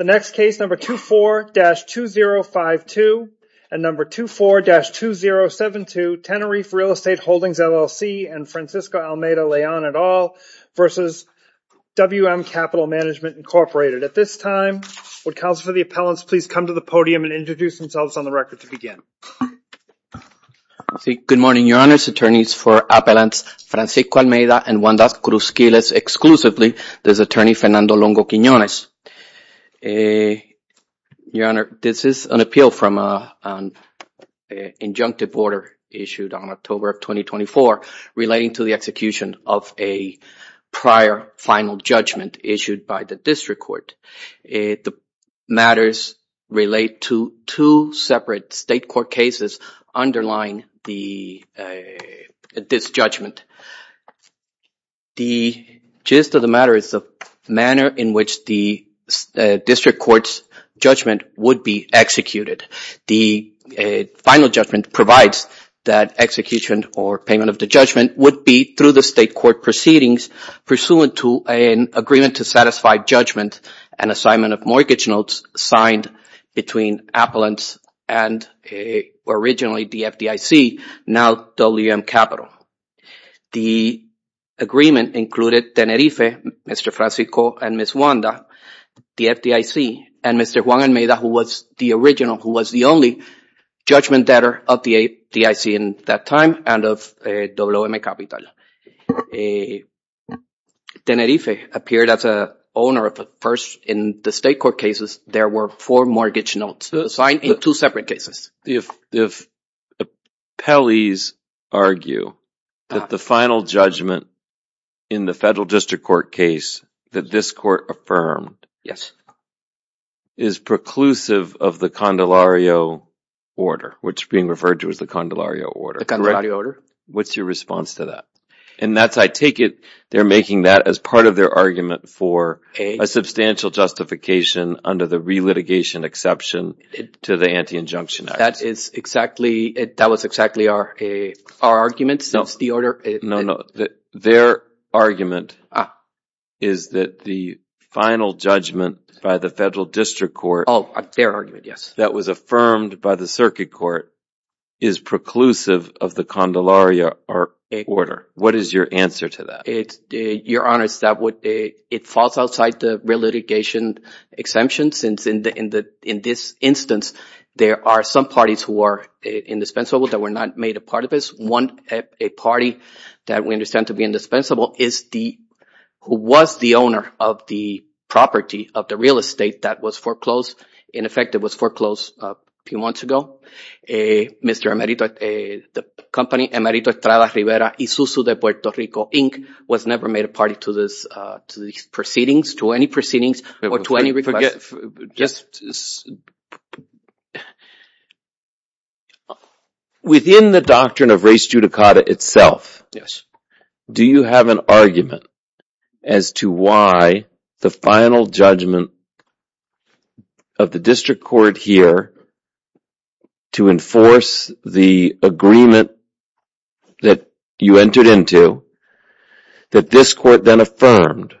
The next case, number 24-2052 and number 24-2072, Tenerife Real Estate Holdings, LLC and Francisco Almeida Leon et al. versus WM Capital Management, Incorporated. At this time, would counsel for the appellants please come to the podium and introduce themselves on the record to begin. Good morning, your honors, attorneys for appellants Francisco Almeida and Juandaz Cruzquiles exclusively. This is attorney Fernando Longo Quiñones. Your honor, this is an appeal from an injunctive order issued on October of 2024 relating to the execution of a prior final judgment issued by the district court. The matters relate to two separate state court cases underlying this judgment. The gist of the matter is the manner in which the district court's judgment would be executed. The final judgment provides that execution or payment of the judgment would be through the state court proceedings pursuant to an agreement to satisfy judgment and assignment of mortgage notes signed between appellants and originally the FDIC, now WM Capital. The agreement included Tenerife, Mr. Francisco and Ms. Juanda, the FDIC, and Mr. Juan Almeida who was the original, who was the only judgment debtor of the FDIC at that time and of WM Capital. Tenerife appeared as an owner of the first, in the state court cases, there were four mortgage notes signed in two separate cases. If appellees argue that the final judgment in the federal district court case that this court affirmed is preclusive of the condelario order, which is being referred to as the condelario order, correct? What's your response to that? And that's, I take it, they're making that as part of their argument for a substantial justification under the re-litigation exception to the anti-injunction act. That is exactly, that was exactly our argument since the order. No, no. Their argument is that the final judgment by the federal district court that was affirmed by the circuit court is preclusive of the condelario order. What is your answer to that? Your Honor, it falls outside the re-litigation exemption since in this instance, there are some parties who are indispensable that were not made a part of this. A party that we understand to be indispensable is the, who was the owner of the property of the real estate that was foreclosed. In effect, it was foreclosed a few months ago. Mr. Emerito, the company, Emerito Estrada Rivera y Susu de Puerto Rico, Inc. was never made a party to these proceedings, to any proceedings or to any request. Within the doctrine of res judicata itself, do you have an argument as to why the final judgment of the district court here to enforce the agreement that you entered into, that this court then affirmed,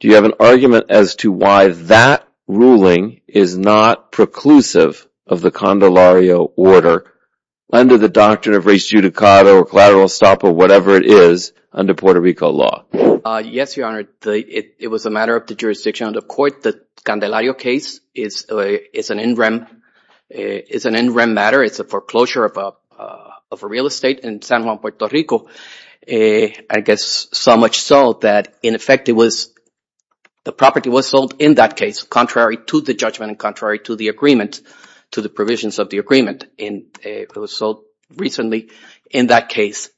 do you have an argument as to why that ruling is not preclusive of the condelario order under the doctrine of res judicata or collateral stop or whatever it is under Puerto Rico law? Yes, Your Honor. It was a matter of the jurisdiction of the court. The condelario case is an in rem matter. It's a foreclosure of a real estate in San Juan, Puerto Rico, I guess so much so that in effect it was, the property was sold in that case, contrary to the judgment and contrary to the agreement, to the provisions of the agreement. It was sold recently in that case.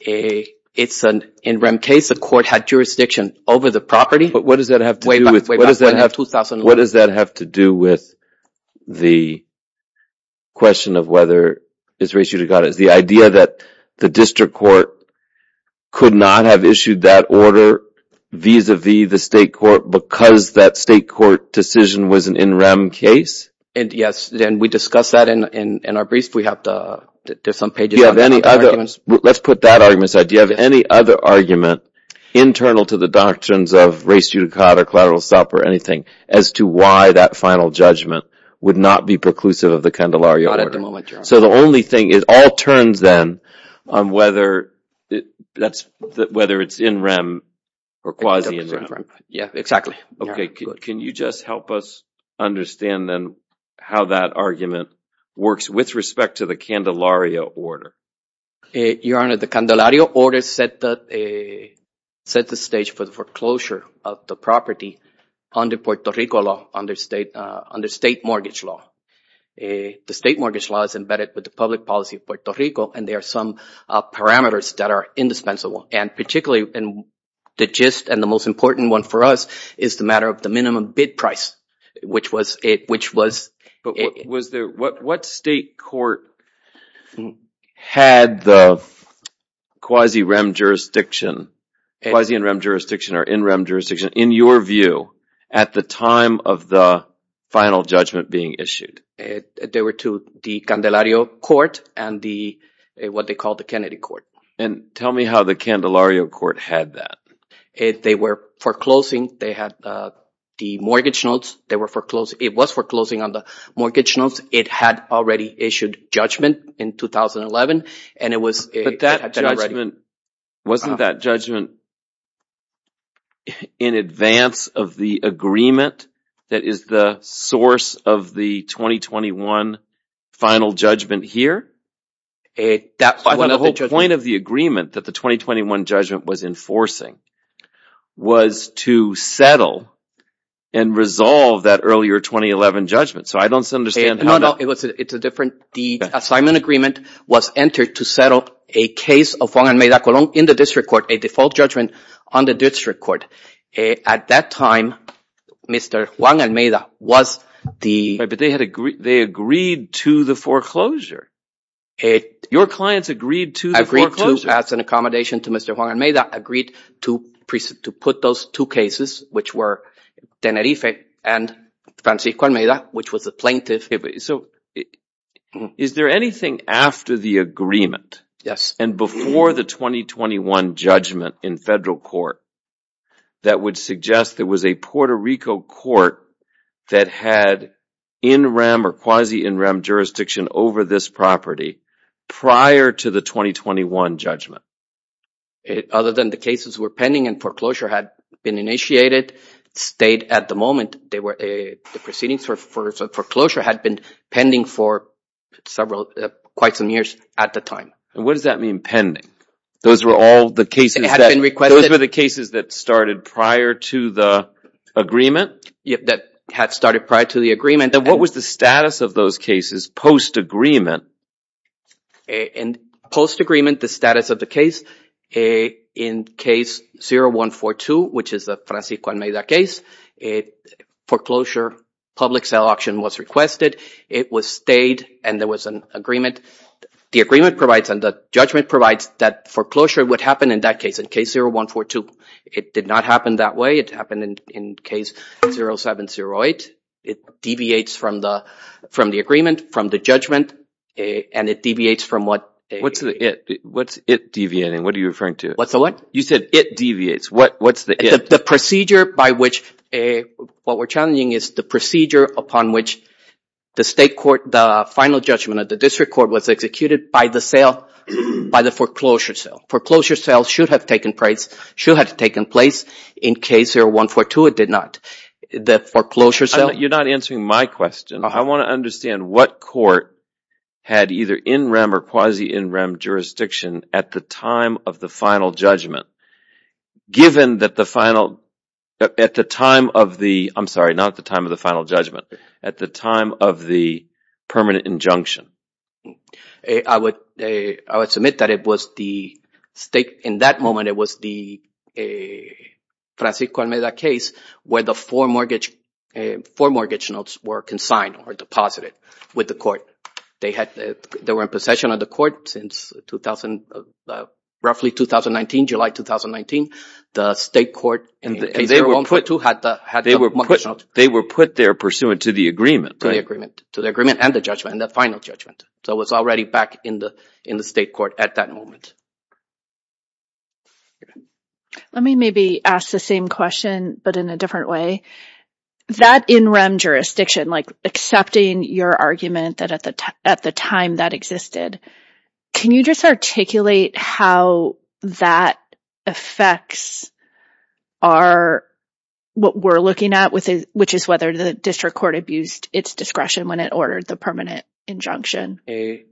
It's an in rem case. The court had jurisdiction over the property. What does that have to do with, what does that have to do with the question of whether res judicata is the idea that the district court could not have issued that order vis-a-vis the state court because that state court decision was an in rem case? Yes, and we discussed that in our briefs. We have to, there's some pages on the arguments. Let's put that argument aside. Do you have any other argument internal to the doctrines of res judicata, collateral stop or anything as to why that final judgment would not be preclusive of the condelario order? Not at the moment, Your Honor. So the only thing is, all turns then on whether it's in rem or quasi in rem. Yes, exactly. Can you just help us understand then how that argument works with respect to the condelario order? Your Honor, the condelario order set the stage for the foreclosure of the property under Puerto Rico law, under state mortgage law. The state mortgage law is embedded with the public policy of Puerto Rico and there are some parameters that are indispensable and particularly the gist and the most important one for us is the matter of the minimum bid price, which was it, which was it. Was there, what state court had the quasi rem jurisdiction, quasi in rem jurisdiction or in rem jurisdiction in your view at the time of the final judgment being issued? They were to the condelario court and the, what they call the Kennedy court. And tell me how the condelario court had that. They were foreclosing, they had the mortgage notes, they were foreclosing, it was foreclosing on the mortgage notes. It had already issued judgment in 2011 and it was, it had been already. But that judgment, wasn't that judgment in advance of the agreement that is the source of the 2021 final judgment here? The whole point of the agreement that the 2021 judgment was enforcing was to settle and resolve that earlier 2011 judgment. So I don't understand. No, no. It's a different, the assignment agreement was entered to settle a case of Juan Almeida Colón in the district court, a default judgment on the district court. At that time, Mr. Juan Almeida was the. But they had agreed, they agreed to the foreclosure. Your clients agreed to the foreclosure. As an accommodation to Mr. Juan Almeida, agreed to put those two cases, which were Tenerife and Francisco Almeida, which was the plaintiff. So is there anything after the agreement? Yes. And before the 2021 judgment in federal court that would suggest there was a Puerto Rico court that had in-rem or quasi-in-rem jurisdiction over this property prior to the 2021 judgment? Other than the cases were pending and foreclosure had been initiated, stayed at the moment, they were, the proceedings for foreclosure had been pending for several, quite some years at the time. And what does that mean, pending? Those were all the cases that. It had been requested. That had started prior to the agreement. And what was the status of those cases post-agreement? In post-agreement, the status of the case, in case 0142, which is the Francisco Almeida case, foreclosure, public sale auction was requested. It was stayed and there was an agreement. The agreement provides and the judgment provides that foreclosure would happen in that case, in case 0142. It did not happen that way. It happened in case 0708. It deviates from the agreement, from the judgment, and it deviates from what. What's the it? What's it deviating? What are you referring to? What's the what? You said it deviates. What's the it? The procedure by which, what we're challenging is the procedure upon which the state court, the final judgment of the district court was executed by the sale, by the foreclosure sale. Foreclosure sale should have taken place in case 0142. It did not. The foreclosure sale. You're not answering my question. I want to understand what court had either in-rem or quasi-in-rem jurisdiction at the time of the final judgment, given that the final, at the time of the, I'm sorry, not the time of the final judgment, at the time of the permanent injunction. I would submit that it was the state, in that moment, it was the Francisco Almeda case where the four mortgage, four mortgage notes were consigned or deposited with the court. They had, they were in possession of the court since 2000, roughly 2019, July 2019. The state court in case 0142 had the, had the mortgage notes. They were put there pursuant to the agreement, right? So it was already back in the, in the state court at that moment. Let me maybe ask the same question, but in a different way. That in-rem jurisdiction, like accepting your argument that at the, at the time that existed, can you just articulate how that affects our, what we're looking at with, which is whether the district court abused its discretion when it ordered the permanent injunction? The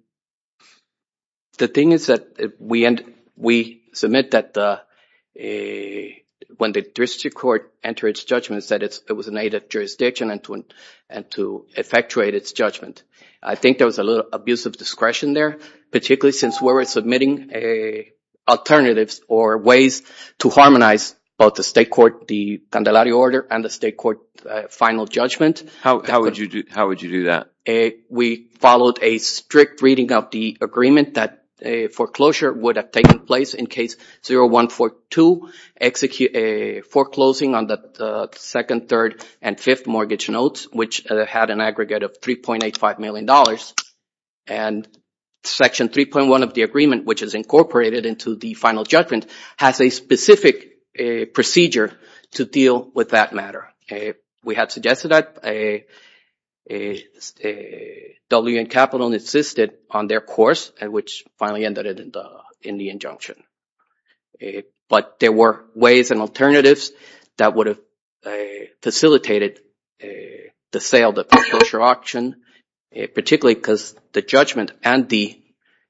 thing is that we end, we submit that the, when the district court entered its judgments that it's, it was an aid of jurisdiction and to, and to effectuate its judgment. I think there was a little abuse of discretion there, particularly since we're submitting a alternatives or ways to harmonize both the state court, the Candelari order and the state court final judgment. How would you do, how would you do that? We followed a strict reading of the agreement that a foreclosure would have taken place in case 0142 execute a foreclosing on the second, third and fifth mortgage notes, which had an aggregate of $3.85 million. And section 3.1 of the agreement, which is incorporated into the final judgment has a specific procedure to deal with that matter. We had suggested that WN Capital insisted on their course and which finally ended in the injunction. But there were ways and alternatives that would have facilitated the sale of the foreclosure auction, particularly because the judgment and the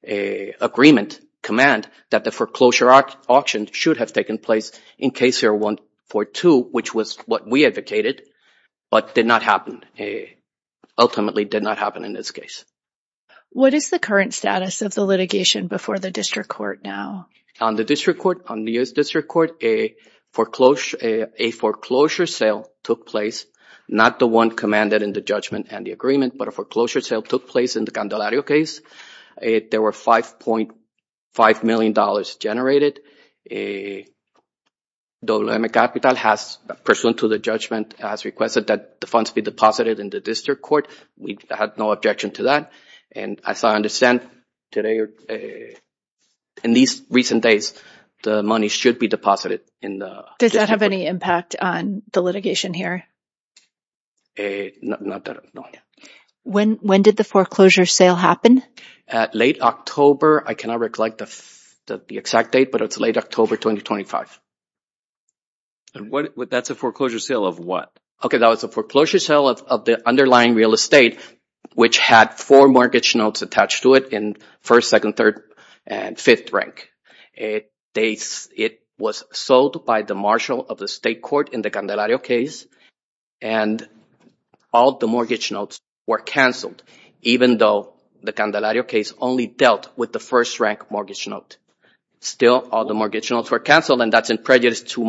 agreement command that the foreclosure auction should have taken place in case 0142, which was what we advocated, but did not happen. It ultimately did not happen in this case. What is the current status of the litigation before the district court now? On the district court, on the U.S. district court, a foreclosure, a foreclosure sale took place, not the one commanded in the judgment and the agreement, but a foreclosure sale took place in the Candelario case. There were $5.5 million generated. WN Capital has pursuant to the judgment has requested that the funds be deposited in the district court. We had no objection to that. And as I understand, today, in these recent days, the money should be deposited in the district court. Does that have any impact on the litigation here? Not that I know of, no. When did the foreclosure sale happen? At late October. I cannot recollect the exact date, but it's late October 2025. That's a foreclosure sale of what? Okay, that was a foreclosure sale of the underlying real estate, which had four mortgage notes attached to it in first, second, third, and fifth rank. It was sold by the marshal of the state court in the Candelario case, and all the mortgage notes were canceled, even though the Candelario case only dealt with the first rank mortgage note. Still, all the mortgage notes were canceled, and that's a prejudice to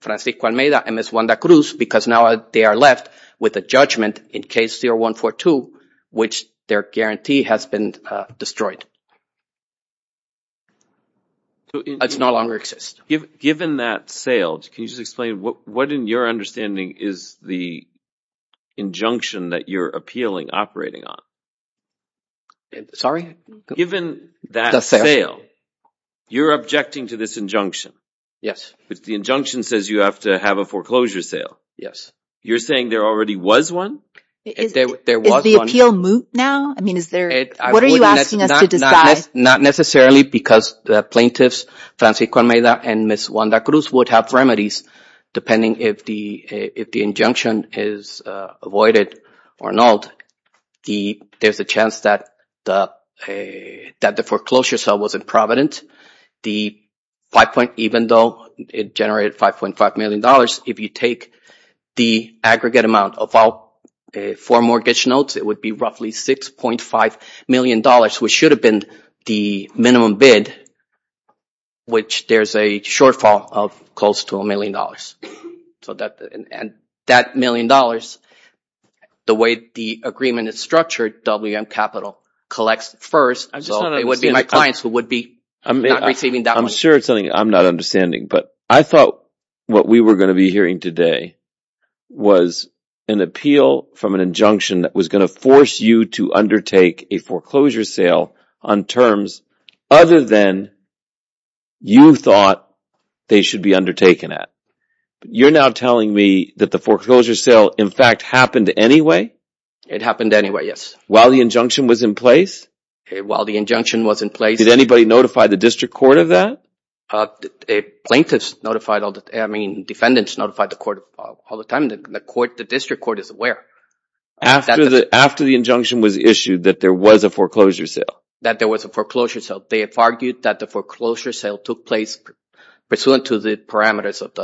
Francisco Almeida and Ms. Wanda Cruz, because now they are left with a judgment in case 0142, which their guarantee has been destroyed. It no longer exists. Given that sale, can you just explain what, in your understanding, is the injunction that you're appealing, operating on? Sorry? Given that sale, you're objecting to this injunction? Yes. The injunction says you have to have a foreclosure sale. Yes. You're saying there already was one? Is the appeal moot now? I mean, is there... What are you asking us to decide? Not necessarily, because the plaintiffs, Francisco Almeida and Ms. Wanda Cruz, would have remedies. Depending if the injunction is avoided or not, there's a chance that the foreclosure sale wasn't provident. Even though it generated $5.5 million, if you take the aggregate amount of all four mortgage notes, it would be roughly $6.5 million, which should have been the minimum bid, which there's a shortfall of close to a million dollars. That million dollars, the way the agreement is structured, WM Capital collects first. I'm sure it's something I'm not understanding, but I thought what we were going to be hearing today was an appeal from an injunction that was going to force you to undertake a foreclosure sale on terms other than you thought they should be undertaken at. You're now telling me that the foreclosure sale, in fact, happened anyway? It happened anyway, yes. While the injunction was in place? While the injunction was in place. Did anybody notify the district court of that? Plaintiffs notified, I mean, defendants notified the court all the time. The district court is aware. After the injunction was issued that there was a foreclosure sale? That there was a foreclosure sale. They have argued that the foreclosure sale took place pursuant to the parameters of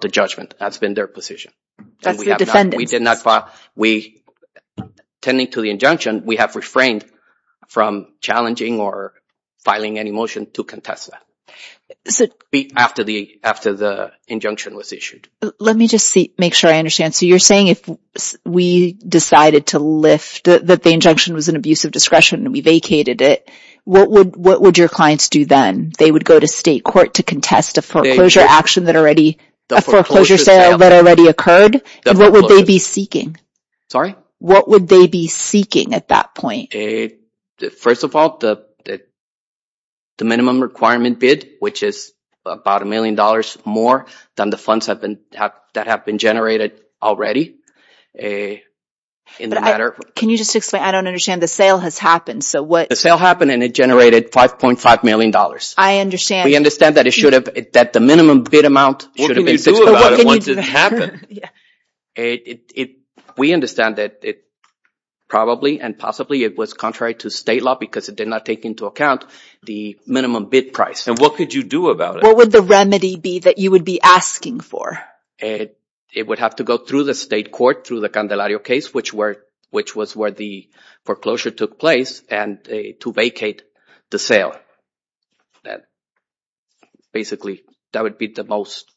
the judgment. That's been their position. That's the defendants. We did not file, we, tending to the injunction, we have refrained from challenging or filing any motion to contest that after the injunction was issued. Let me just make sure I understand. So you're saying if we decided to lift that the injunction was an abuse of discretion and we vacated it, what would your clients do then? They would go to state court to contest a foreclosure action that already, a foreclosure sale that already occurred? What would they be seeking? What would they be seeking at that point? First of all, the minimum requirement bid, which is about a million dollars more than the funds that have been generated already. In the matter... Can you just explain? I don't understand. The sale has happened. So what... The sale happened and it generated 5.5 million dollars. I understand. We understand that it should have, that the minimum bid amount should have been 6. What can you do about it once it happened? We understand that it probably and possibly it was contrary to state law because it did not take into account the minimum bid price. And what could you do about it? What would the remedy be that you would be asking for? It would have to go through the state court, through the Candelario case, which was where the foreclosure took place and to vacate the sale. Basically, that would be the most,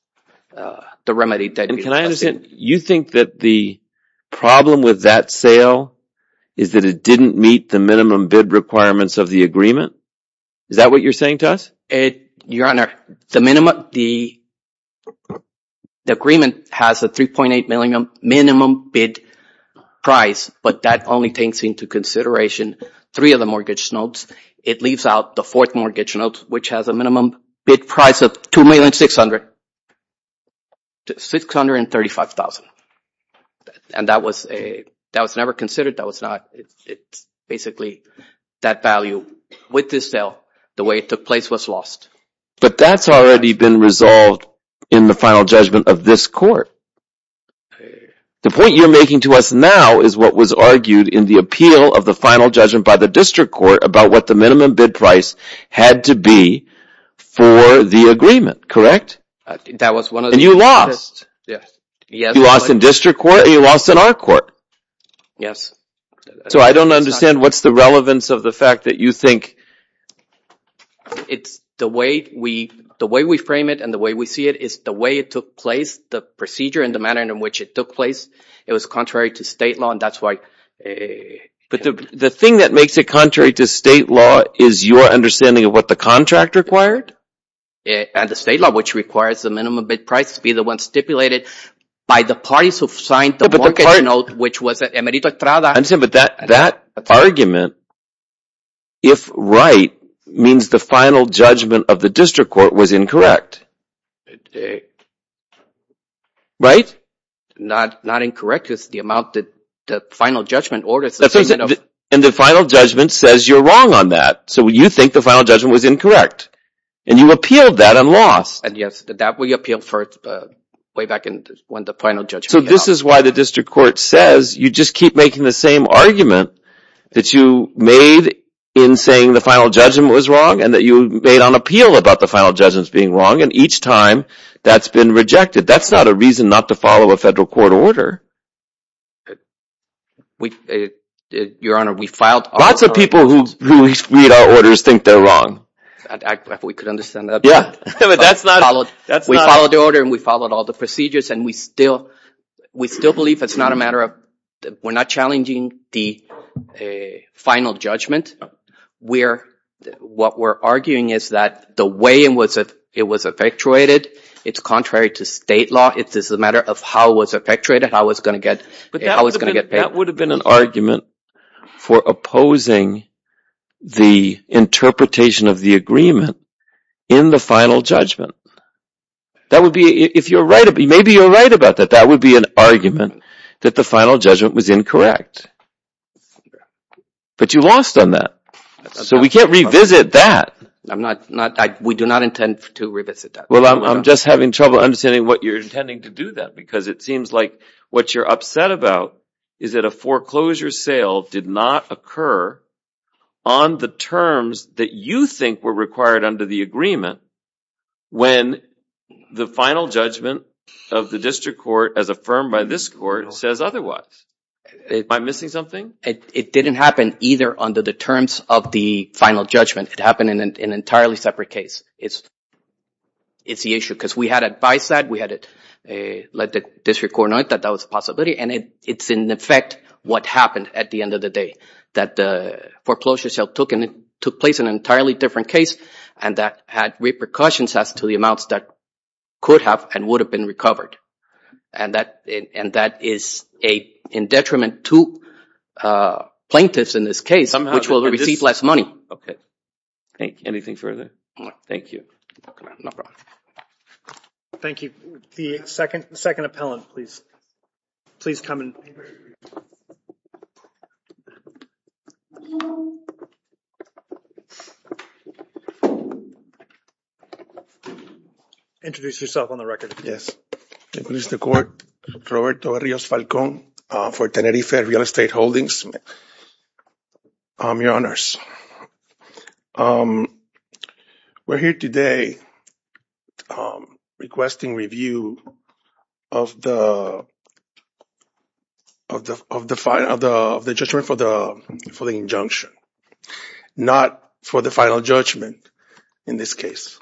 the remedy that we... You think that the problem with that sale is that it didn't meet the minimum bid requirements of the agreement? Is that what you're saying to us? Your Honor, the agreement has a 3.8 million minimum bid price, but that only takes into consideration three of the mortgage notes. It leaves out the fourth mortgage note, which has a minimum bid price of $2,600,000. $2,600,000, $2,600,000, $2,600,000, $2,600,000. And that was a, that was never considered. That was not, it's basically that value with this sale, the way it took place was lost. But that's already been resolved in the final judgment of this court. The point you're making to us now is what was argued in the appeal of the final judgment by the district court about what the minimum bid price had to be for the agreement, correct? That was one of the... And you lost. Yes. You lost in district court or you lost in our court? Yes. So I don't understand what's the relevance of the fact that you think... It's the way we frame it and the way we see it is the way it took place, the procedure and the manner in which it took place, it was contrary to state law and that's why... But the thing that makes it contrary to state law is your understanding of what the contract required? And the state law, which requires the minimum bid price to be the one stipulated by the parties who signed the mortgage note, which was Emerita Trada... I understand, but that argument, if right, means the final judgment of the district court was incorrect, right? Not incorrect, it's the amount that the final judgment orders... And the final judgment says you're wrong on that, so you think the final judgment was incorrect and you appealed that and lost. And yes, that we appealed for way back when the final judgment... So this is why the district court says you just keep making the same argument that you made in saying the final judgment was wrong and that you made on appeal about the final judgments being wrong and each time that's been rejected. That's not a reason not to follow a federal court order. Your Honor, we filed... Lots of people who read our orders think they're wrong. We could understand that. But that's not... We followed the order and we followed all the procedures and we still believe it's not a matter of... We're not challenging the final judgment. What we're arguing is that the way it was effectuated, it's contrary to state law. It's just a matter of how it was effectuated, how it's going to get paid. That would have been an argument for opposing the interpretation of the agreement in the final judgment. That would be... If you're right... Maybe you're right about that. That would be an argument that the final judgment was incorrect. But you lost on that. So we can't revisit that. We do not intend to revisit that. Well, I'm just having trouble understanding what you're intending to do then because it seems like what you're upset about is that a foreclosure sale did not occur on the terms that you think were required under the agreement when the final judgment of the district court as affirmed by this court says otherwise. Am I missing something? It didn't happen either under the terms of the final judgment. It happened in an entirely separate case. It's the issue. Because we had advised that. We had let the district court know that that was a possibility. And it's in effect what happened at the end of the day. That the foreclosure sale took place in an entirely different case and that had repercussions as to the amounts that could have and would have been recovered. And that is in detriment to plaintiffs in this case, which will receive less money. Thank you. Anything further? No. Thank you. No problem. Thank you. The second appellant, please. Please come in. Introduce yourself on the record. Yes. I introduce the court, Roberto Rios Falcón for Tenerife Real Estate Holdings. Your Honors. We're here today requesting review of the judgment for the injunction. Not for the final judgment in this case.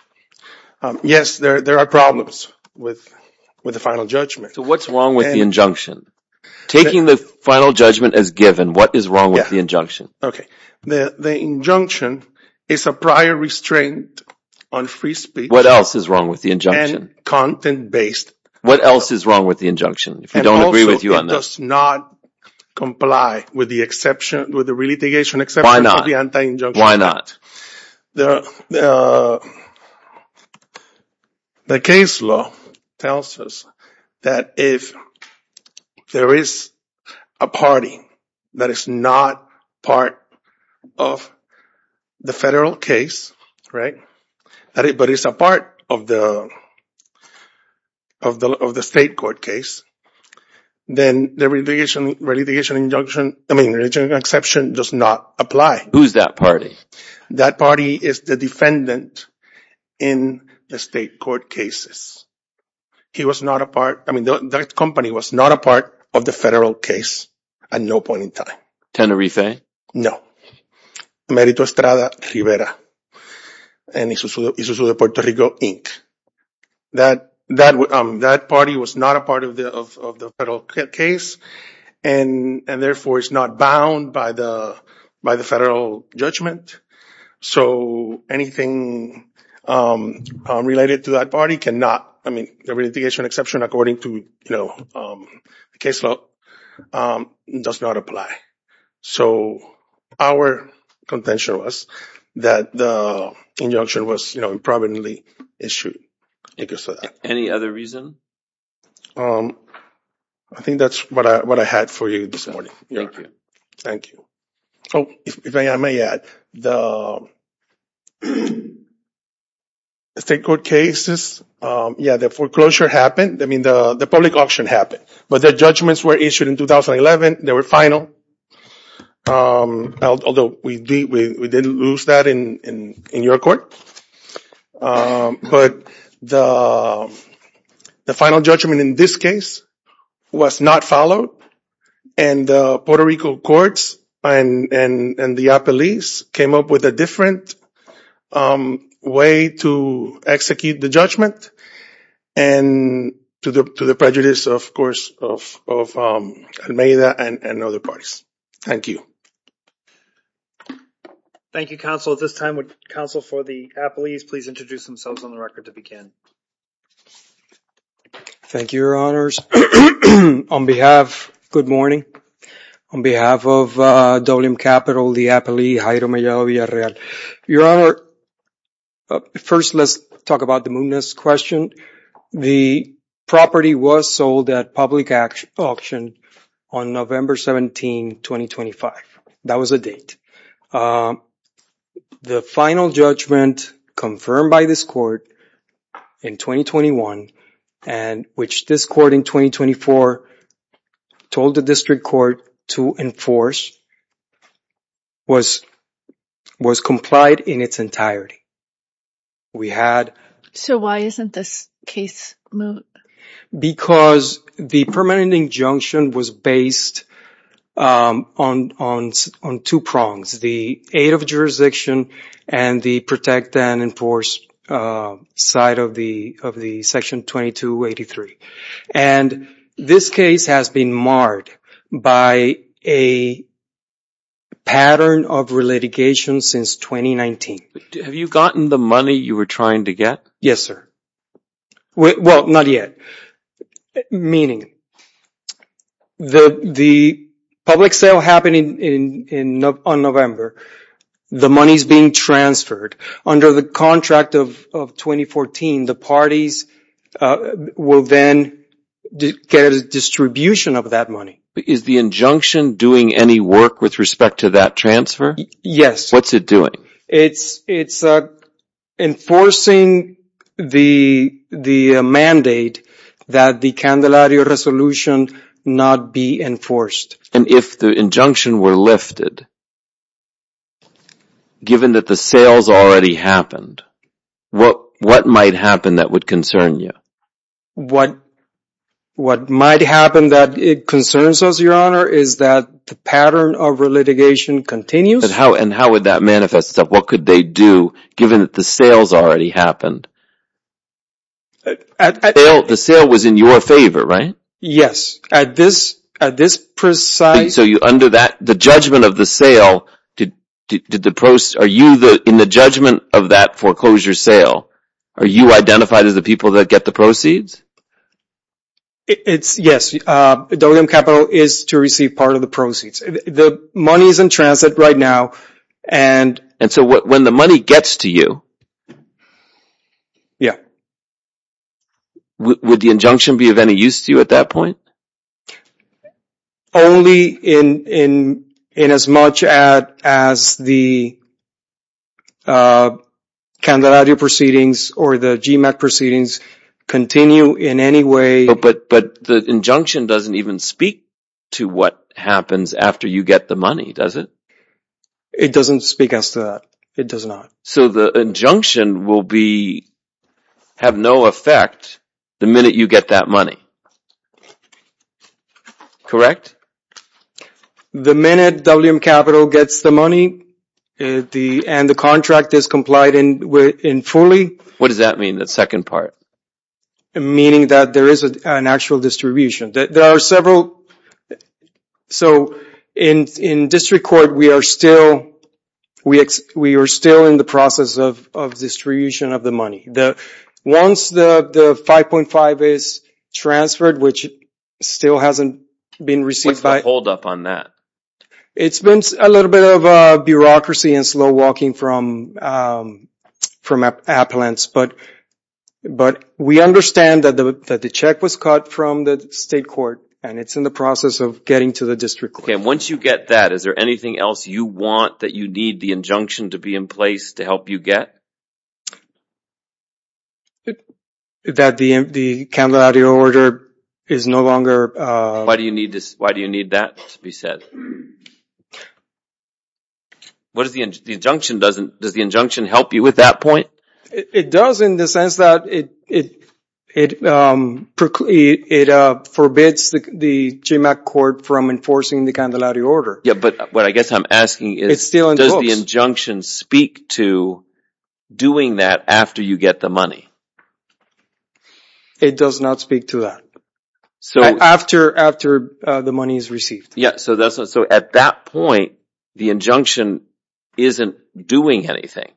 Yes. There are problems with the final judgment. What's wrong with the injunction? Taking the final judgment as given, what is wrong with the injunction? The injunction is a prior restraint on free speech. What else is wrong with the injunction? And content-based. What else is wrong with the injunction? If we don't agree with you on that. And also, it does not comply with the exception, with the relitigation exception for the anti-injunction. Why not? The case law tells us that if there is a party that is not part of the federal case, but is a part of the state court case, then the relitigation exception does not apply. Who's that party? That party is the defendant in the state court cases. He was not a part, I mean, that company was not a part of the federal case at no point in time. No. Merito Estrada Rivera and Isuzu de Puerto Rico Inc. That party was not a part of the federal case and therefore is not bound by the federal judgment. So anything related to that party cannot, I mean, the relitigation exception according to the case law does not apply. So our contention was that the injunction was, you know, improperly issued because of that. Any other reason? I think that's what I had for you this morning. Thank you. Thank you. Oh, if I may add, the state court cases, yeah, the foreclosure happened, I mean, the public auction happened, but the judgments were issued in 2011, they were final, although we didn't lose that in your court, but the final judgment in this case was not followed and the Puerto Rico courts and the police came up with a different way to execute the judgment and to the prejudice, of course, of Almeida and other parties. Thank you. Thank you, counsel. At this time, would counsel for the appellees please introduce themselves on the record to begin? Thank you, your honors. On behalf, good morning. On behalf of WM Capital, the appellee, Jairo Mellao Villarreal. Your honor, first, let's talk about the Muniz question. The property was sold at public auction on November 17, 2025. That was a date. The final judgment confirmed by this court in 2021 and which this court in 2024 told the district court to enforce was complied in its entirety. So why isn't this case moved? Because the permanent injunction was based on two prongs, the aid of jurisdiction and the protect and enforce side of the section 2283. And this case has been marred by a pattern of relitigation since 2019. Have you gotten the money you were trying to get? Yes, sir. Well, not yet. Meaning, the public sale happened on November. The money is being transferred. Under the contract of 2014, the parties will then get a distribution of that money. Is the injunction doing any work with respect to that transfer? Yes. What's it doing? It's enforcing the mandate that the candelaria resolution not be enforced. And if the injunction were lifted, given that the sales already happened, what might happen that would concern you? What might happen that concerns us, Your Honor, is that the pattern of relitigation continues. And how would that manifest itself? What could they do, given that the sales already happened? The sale was in your favor, right? Yes. At this precise... So under that, the judgment of the sale, in the judgment of that foreclosure sale, are you identified as the people that get the proceeds? Yes. WM Capital is to receive part of the proceeds. The money is in transit right now. And so when the money gets to you... Yeah. Would the injunction be of any use to you at that point? Only in as much as the candelaria proceedings or the GMAC proceedings continue in any way... But the injunction doesn't even speak to what happens after you get the money, does it? It doesn't speak as to that. It does not. So the injunction will have no effect the minute you get that money. Correct? The minute WM Capital gets the money and the contract is complied in fully... What does that mean, that second part? Meaning that there is an actual distribution. There are several... So in district court, we are still in the process of distribution of the money. Once the 5.5 is transferred, which still hasn't been received by... What's the holdup on that? It's been a little bit of bureaucracy and slow walking from appellants. But we understand that the check was cut from the state court and it's in the process of getting to the district court. And once you get that, is there anything else you want that you need the injunction to be in place to help you get? That the candelaria order is no longer... Why do you need that to be said? Does the injunction help you with that point? It does in the sense that it forbids the GMAC court from enforcing the candelaria order. But what I guess I'm asking is, does the injunction speak to doing that after you get the money? It does not speak to that. After the money is received. So at that point, the injunction isn't doing anything.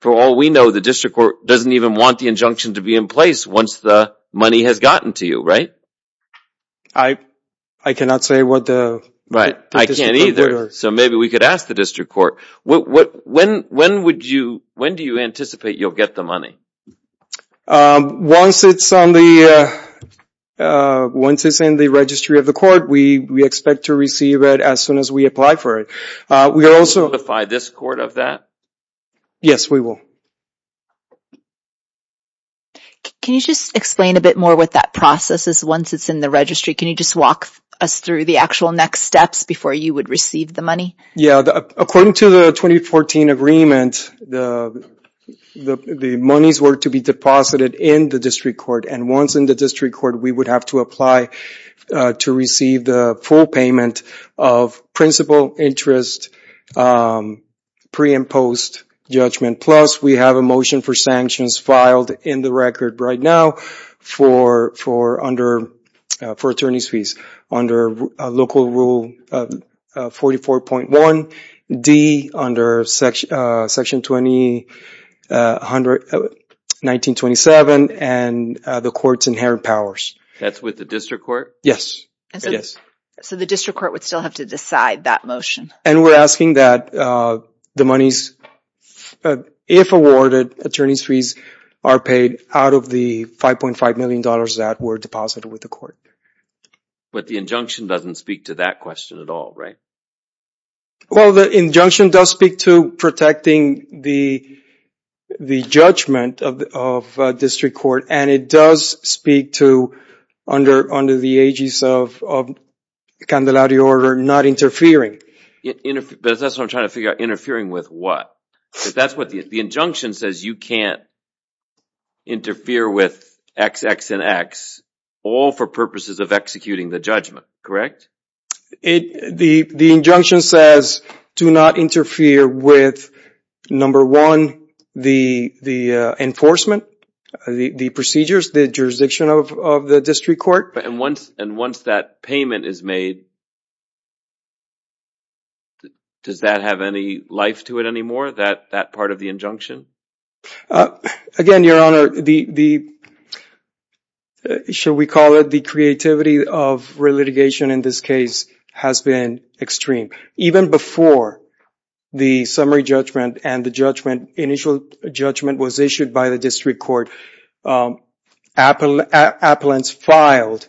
For all we know, the district court doesn't even want the injunction to be in place once the money has gotten to you, right? I cannot say what the... I can't either. So maybe we could ask the district court. When do you anticipate you'll get the money? Once it's in the registry of the court, we expect to receive it as soon as we apply for it. Will you notify this court of that? Yes, we will. Can you just explain a bit more what that process is once it's in the registry? Can you just walk us through the actual next steps before you would receive the money? Yeah, according to the 2014 agreement, the monies were to be deposited in the district court. And once in the district court, we would have to apply to receive the full payment of principal interest pre and post judgment. Plus, we have a motion for sanctions filed in the record right now for attorney's fees under Local Rule 44.1D under Section 1927. And the court's inherent powers. That's with the district court? Yes. So the district court would still have to decide that motion? And we're asking that the monies, if awarded, attorney's fees are paid out of the $5.5 million that were deposited with the court. But the injunction doesn't speak to that question at all, right? Well, the injunction does speak to protecting the judgment of the district court. And it does speak to, under the aegis of the Candelari Order, not interfering. But that's what I'm trying to figure out. Interfering with what? The injunction says you can't interfere with XX and X all for purposes of executing the judgment, correct? The injunction says do not interfere with, number one, the enforcement, the procedures, the jurisdiction of the district court. And once that payment is made, does that have any life to it anymore, that part of the injunction? Again, Your Honor, the, shall we call it the creativity of re-litigation in this case has been extreme. Even before the summary judgment and the judgment, initial judgment was issued by the district court, appellants filed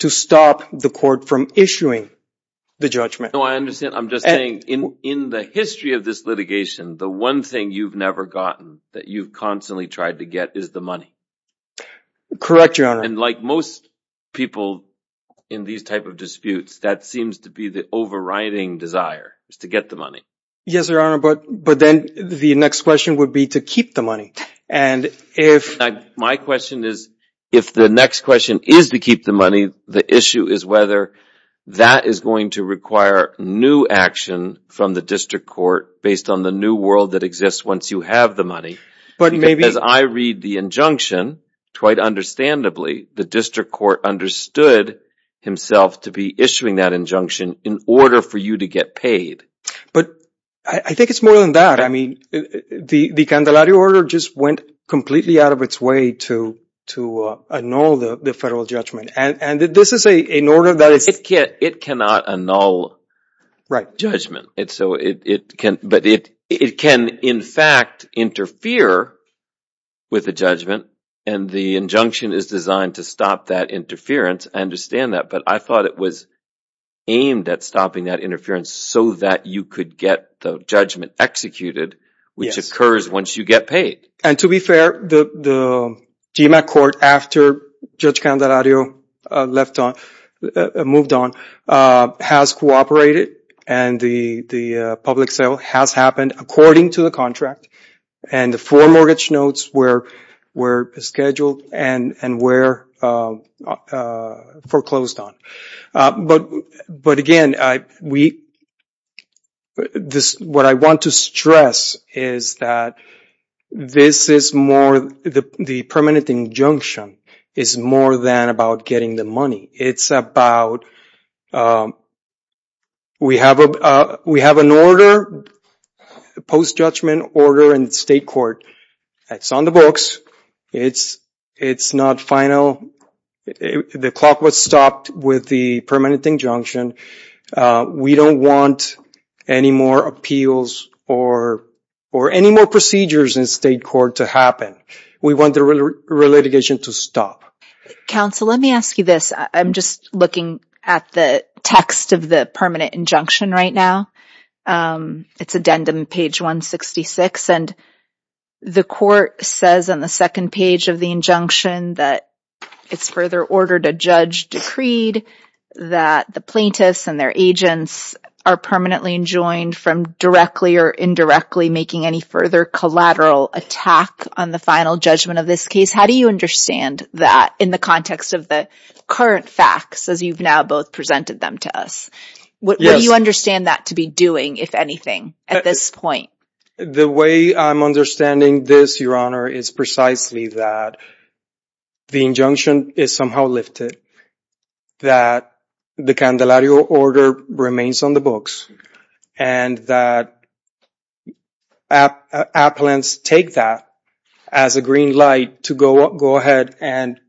to stop the court from issuing the judgment. I'm just saying, in the history of this litigation, the one thing you've never gotten that you've constantly tried to get is the money. Correct, Your Honor. And like most people in these type of disputes, that seems to be the overriding desire, is to get the money. Yes, Your Honor, but then the next question would be to keep the money. My question is, if the next question is to keep the money, the issue is whether that is going to require new action from the district court based on the new world that exists once you have the money. As I read the injunction, quite understandably, the district court understood himself to be issuing that injunction in order for you to get paid. But I think it's more than that. I mean, the Candelario order just went completely out of its way to annul the federal judgment. And this is an order that is... It cannot annul judgment. But it can, in fact, interfere with the judgment. And the injunction is designed to stop that interference. I understand that, but I thought it was aimed at stopping that interference so that you could get the judgment executed, which occurs once you get paid. And to be fair, the GMAC court, after Judge Candelario moved on, has cooperated. And the public sale has happened according to the contract. And the four mortgage notes were scheduled and were foreclosed on. But again, what I want to stress is that this is more... The permanent injunction is more than about getting the money. It's about... We have an order, a post-judgment order in the state court. It's on the books. It's not final. The clock was stopped with the permanent injunction. We don't want any more appeals or any more procedures in state court to happen. We want the relitigation to stop. Counsel, let me ask you this. I'm just looking at the text of the permanent injunction right now. It's addendum page 166. And the court says on the second page of the injunction that it's further order to judge decreed that the plaintiffs and their agents are permanently enjoined from directly or indirectly making any further collateral attack on the final judgment of this case. How do you understand that in the context of the current facts as you've now both presented them to us? Yes. What do you understand that to be doing, if anything, at this point? The way I'm understanding this, Your Honor, is precisely that the injunction is somehow lifted. That the candelario order remains on the books. And that appellants take that as a green light to go ahead and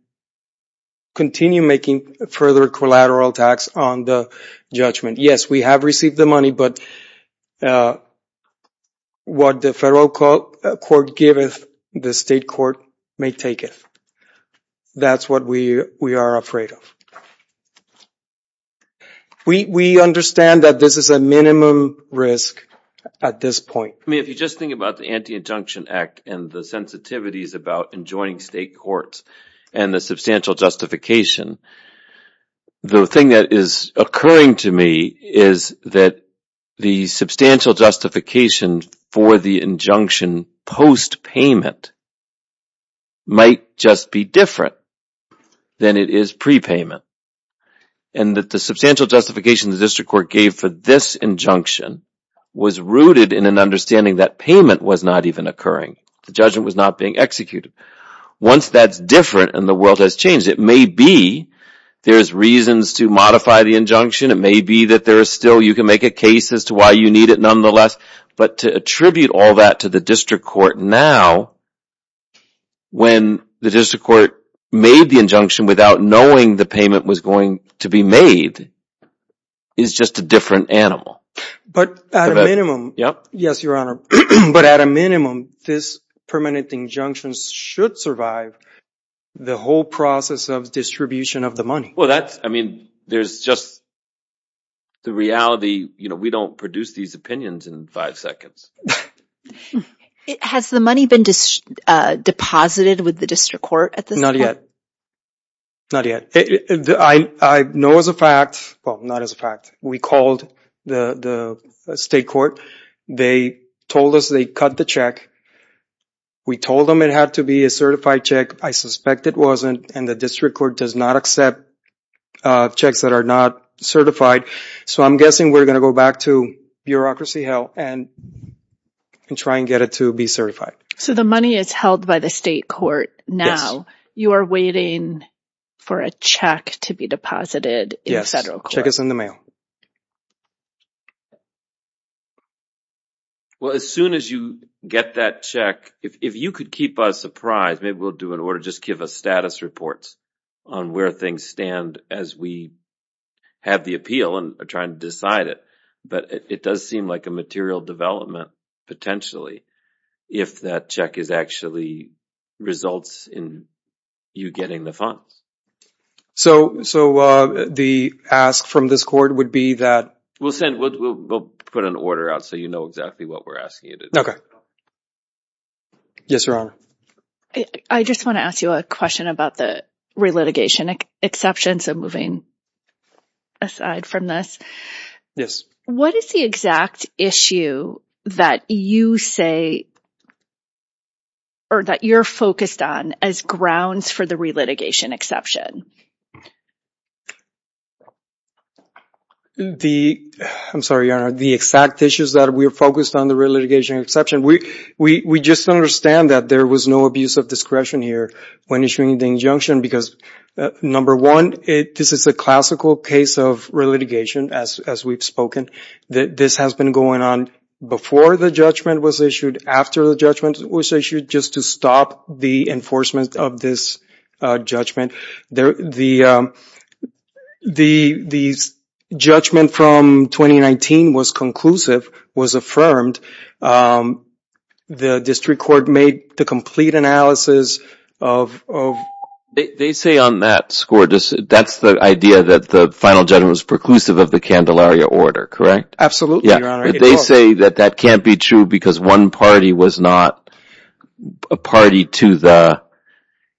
continue making further collateral attacks on the judgment. Yes, we have received the money, but what the federal court giveth, the state court may taketh. That's what we are afraid of. We understand that this is a minimum risk at this point. I mean, if you just think about the Anti-Injunction Act and the sensitivities about enjoining state courts and the substantial justification, the thing that is occurring to me is that the substantial justification for the injunction post-payment might just be different than it is pre-payment. And that the substantial justification the district court gave for this injunction was rooted in an understanding that payment was not even occurring. The judgment was not being executed. Once that's different and the world has changed, it may be there's reasons to modify the injunction. It may be that there is still, you can make a case as to why you need it nonetheless. But to attribute all that to the district court now, when the district court made the injunction without knowing the payment was going to be made, is just a different animal. But at a minimum, yes, your honor. But at a minimum, this permanent injunction should survive the whole process of distribution of the money. Well, that's, I mean, there's just the reality. You know, we don't produce these opinions in five seconds. Has the money been deposited with the district court at this point? Not yet. Not yet. I know as a fact, well, not as a fact, we called the state court. They told us they cut the check. We told them it had to be a certified check. I suspect it wasn't, and the district court does not accept checks that are not certified. So I'm guessing we're going to go back to bureaucracy hell and try and get it to be certified. So the money is held by the state court now. Yes. You are waiting for a check to be deposited in federal court. Yes, check is in the mail. Well, as soon as you get that check, if you could keep us apprised, maybe we'll do an order, just give us status reports on where things stand as we have the appeal and are trying to decide it. But it does seem like a material development, potentially, if that check actually results in you getting the funds. So the ask from this court would be that? We'll send, we'll put an order out so you know exactly what we're asking you to do. Yes, Your Honor. I just want to ask you a question about the relitigation exceptions and moving aside from this. Yes. What is the exact issue that you say or that you're focused on as grounds for the relitigation exception? I'm sorry, Your Honor. The exact issues that we're focused on the relitigation exception, we just understand that there was no abuse of discretion here when issuing the injunction because, number one, this is a classical case of relitigation, as we've spoken. This has been going on before the judgment was issued, after the judgment was issued, just to stop the enforcement of this judgment. The judgment from 2019 was conclusive, was affirmed. The district court made the complete analysis of... They say on that score, that's the idea that the final judgment was preclusive of the Candelaria order, correct? Absolutely, Your Honor. They say that that can't be true because one party was not a party to the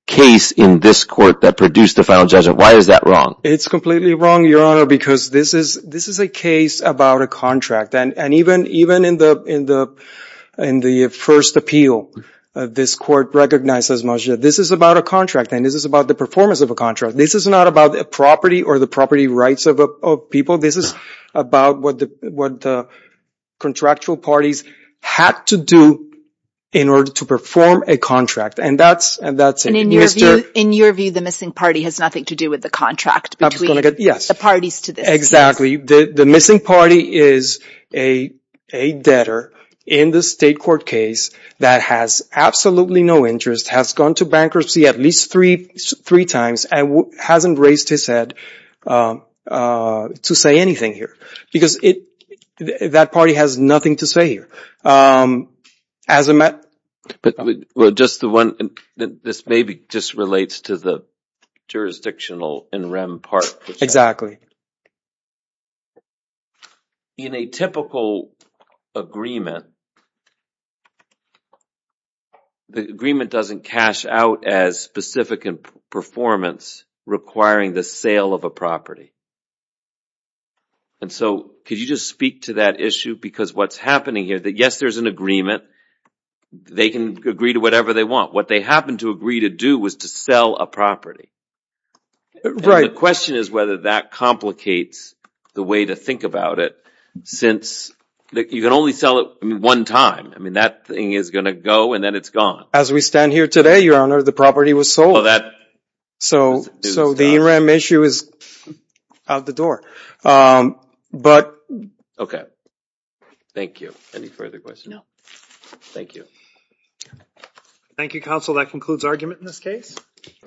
case in this court that produced the final judgment. Why is that wrong? It's completely wrong, Your Honor, because this is a case about a contract. And even in the first appeal, this court recognized as much that this is about a contract, and this is about the performance of a contract. This is not about a property or the property rights of people. This is about what the contractual parties had to do in order to perform a contract, and that's it. And in your view, the missing party has nothing to do with the contract between the parties to this case? Exactly. The missing party is a debtor in the state court case that has absolutely no interest, has gone to bankruptcy at least three times, and hasn't raised his head to say anything here. Because that party has nothing to say here. This maybe just relates to the jurisdictional and REM part. Exactly. In a typical agreement, the agreement doesn't cash out as specific in performance requiring the sale of a property. And so could you just speak to that issue? Because what's happening here is that yes, there's an agreement. They can agree to whatever they want. What they happened to agree to do was to sell a property. Right. The question is whether that complicates the way to think about it since you can only sell it one time. I mean, that thing is going to go, and then it's gone. As we stand here today, Your Honor, the property was sold. So the REM issue is out the door. Okay. Thank you. Any further questions? No. Thank you. Thank you, Counsel. That concludes argument in this case.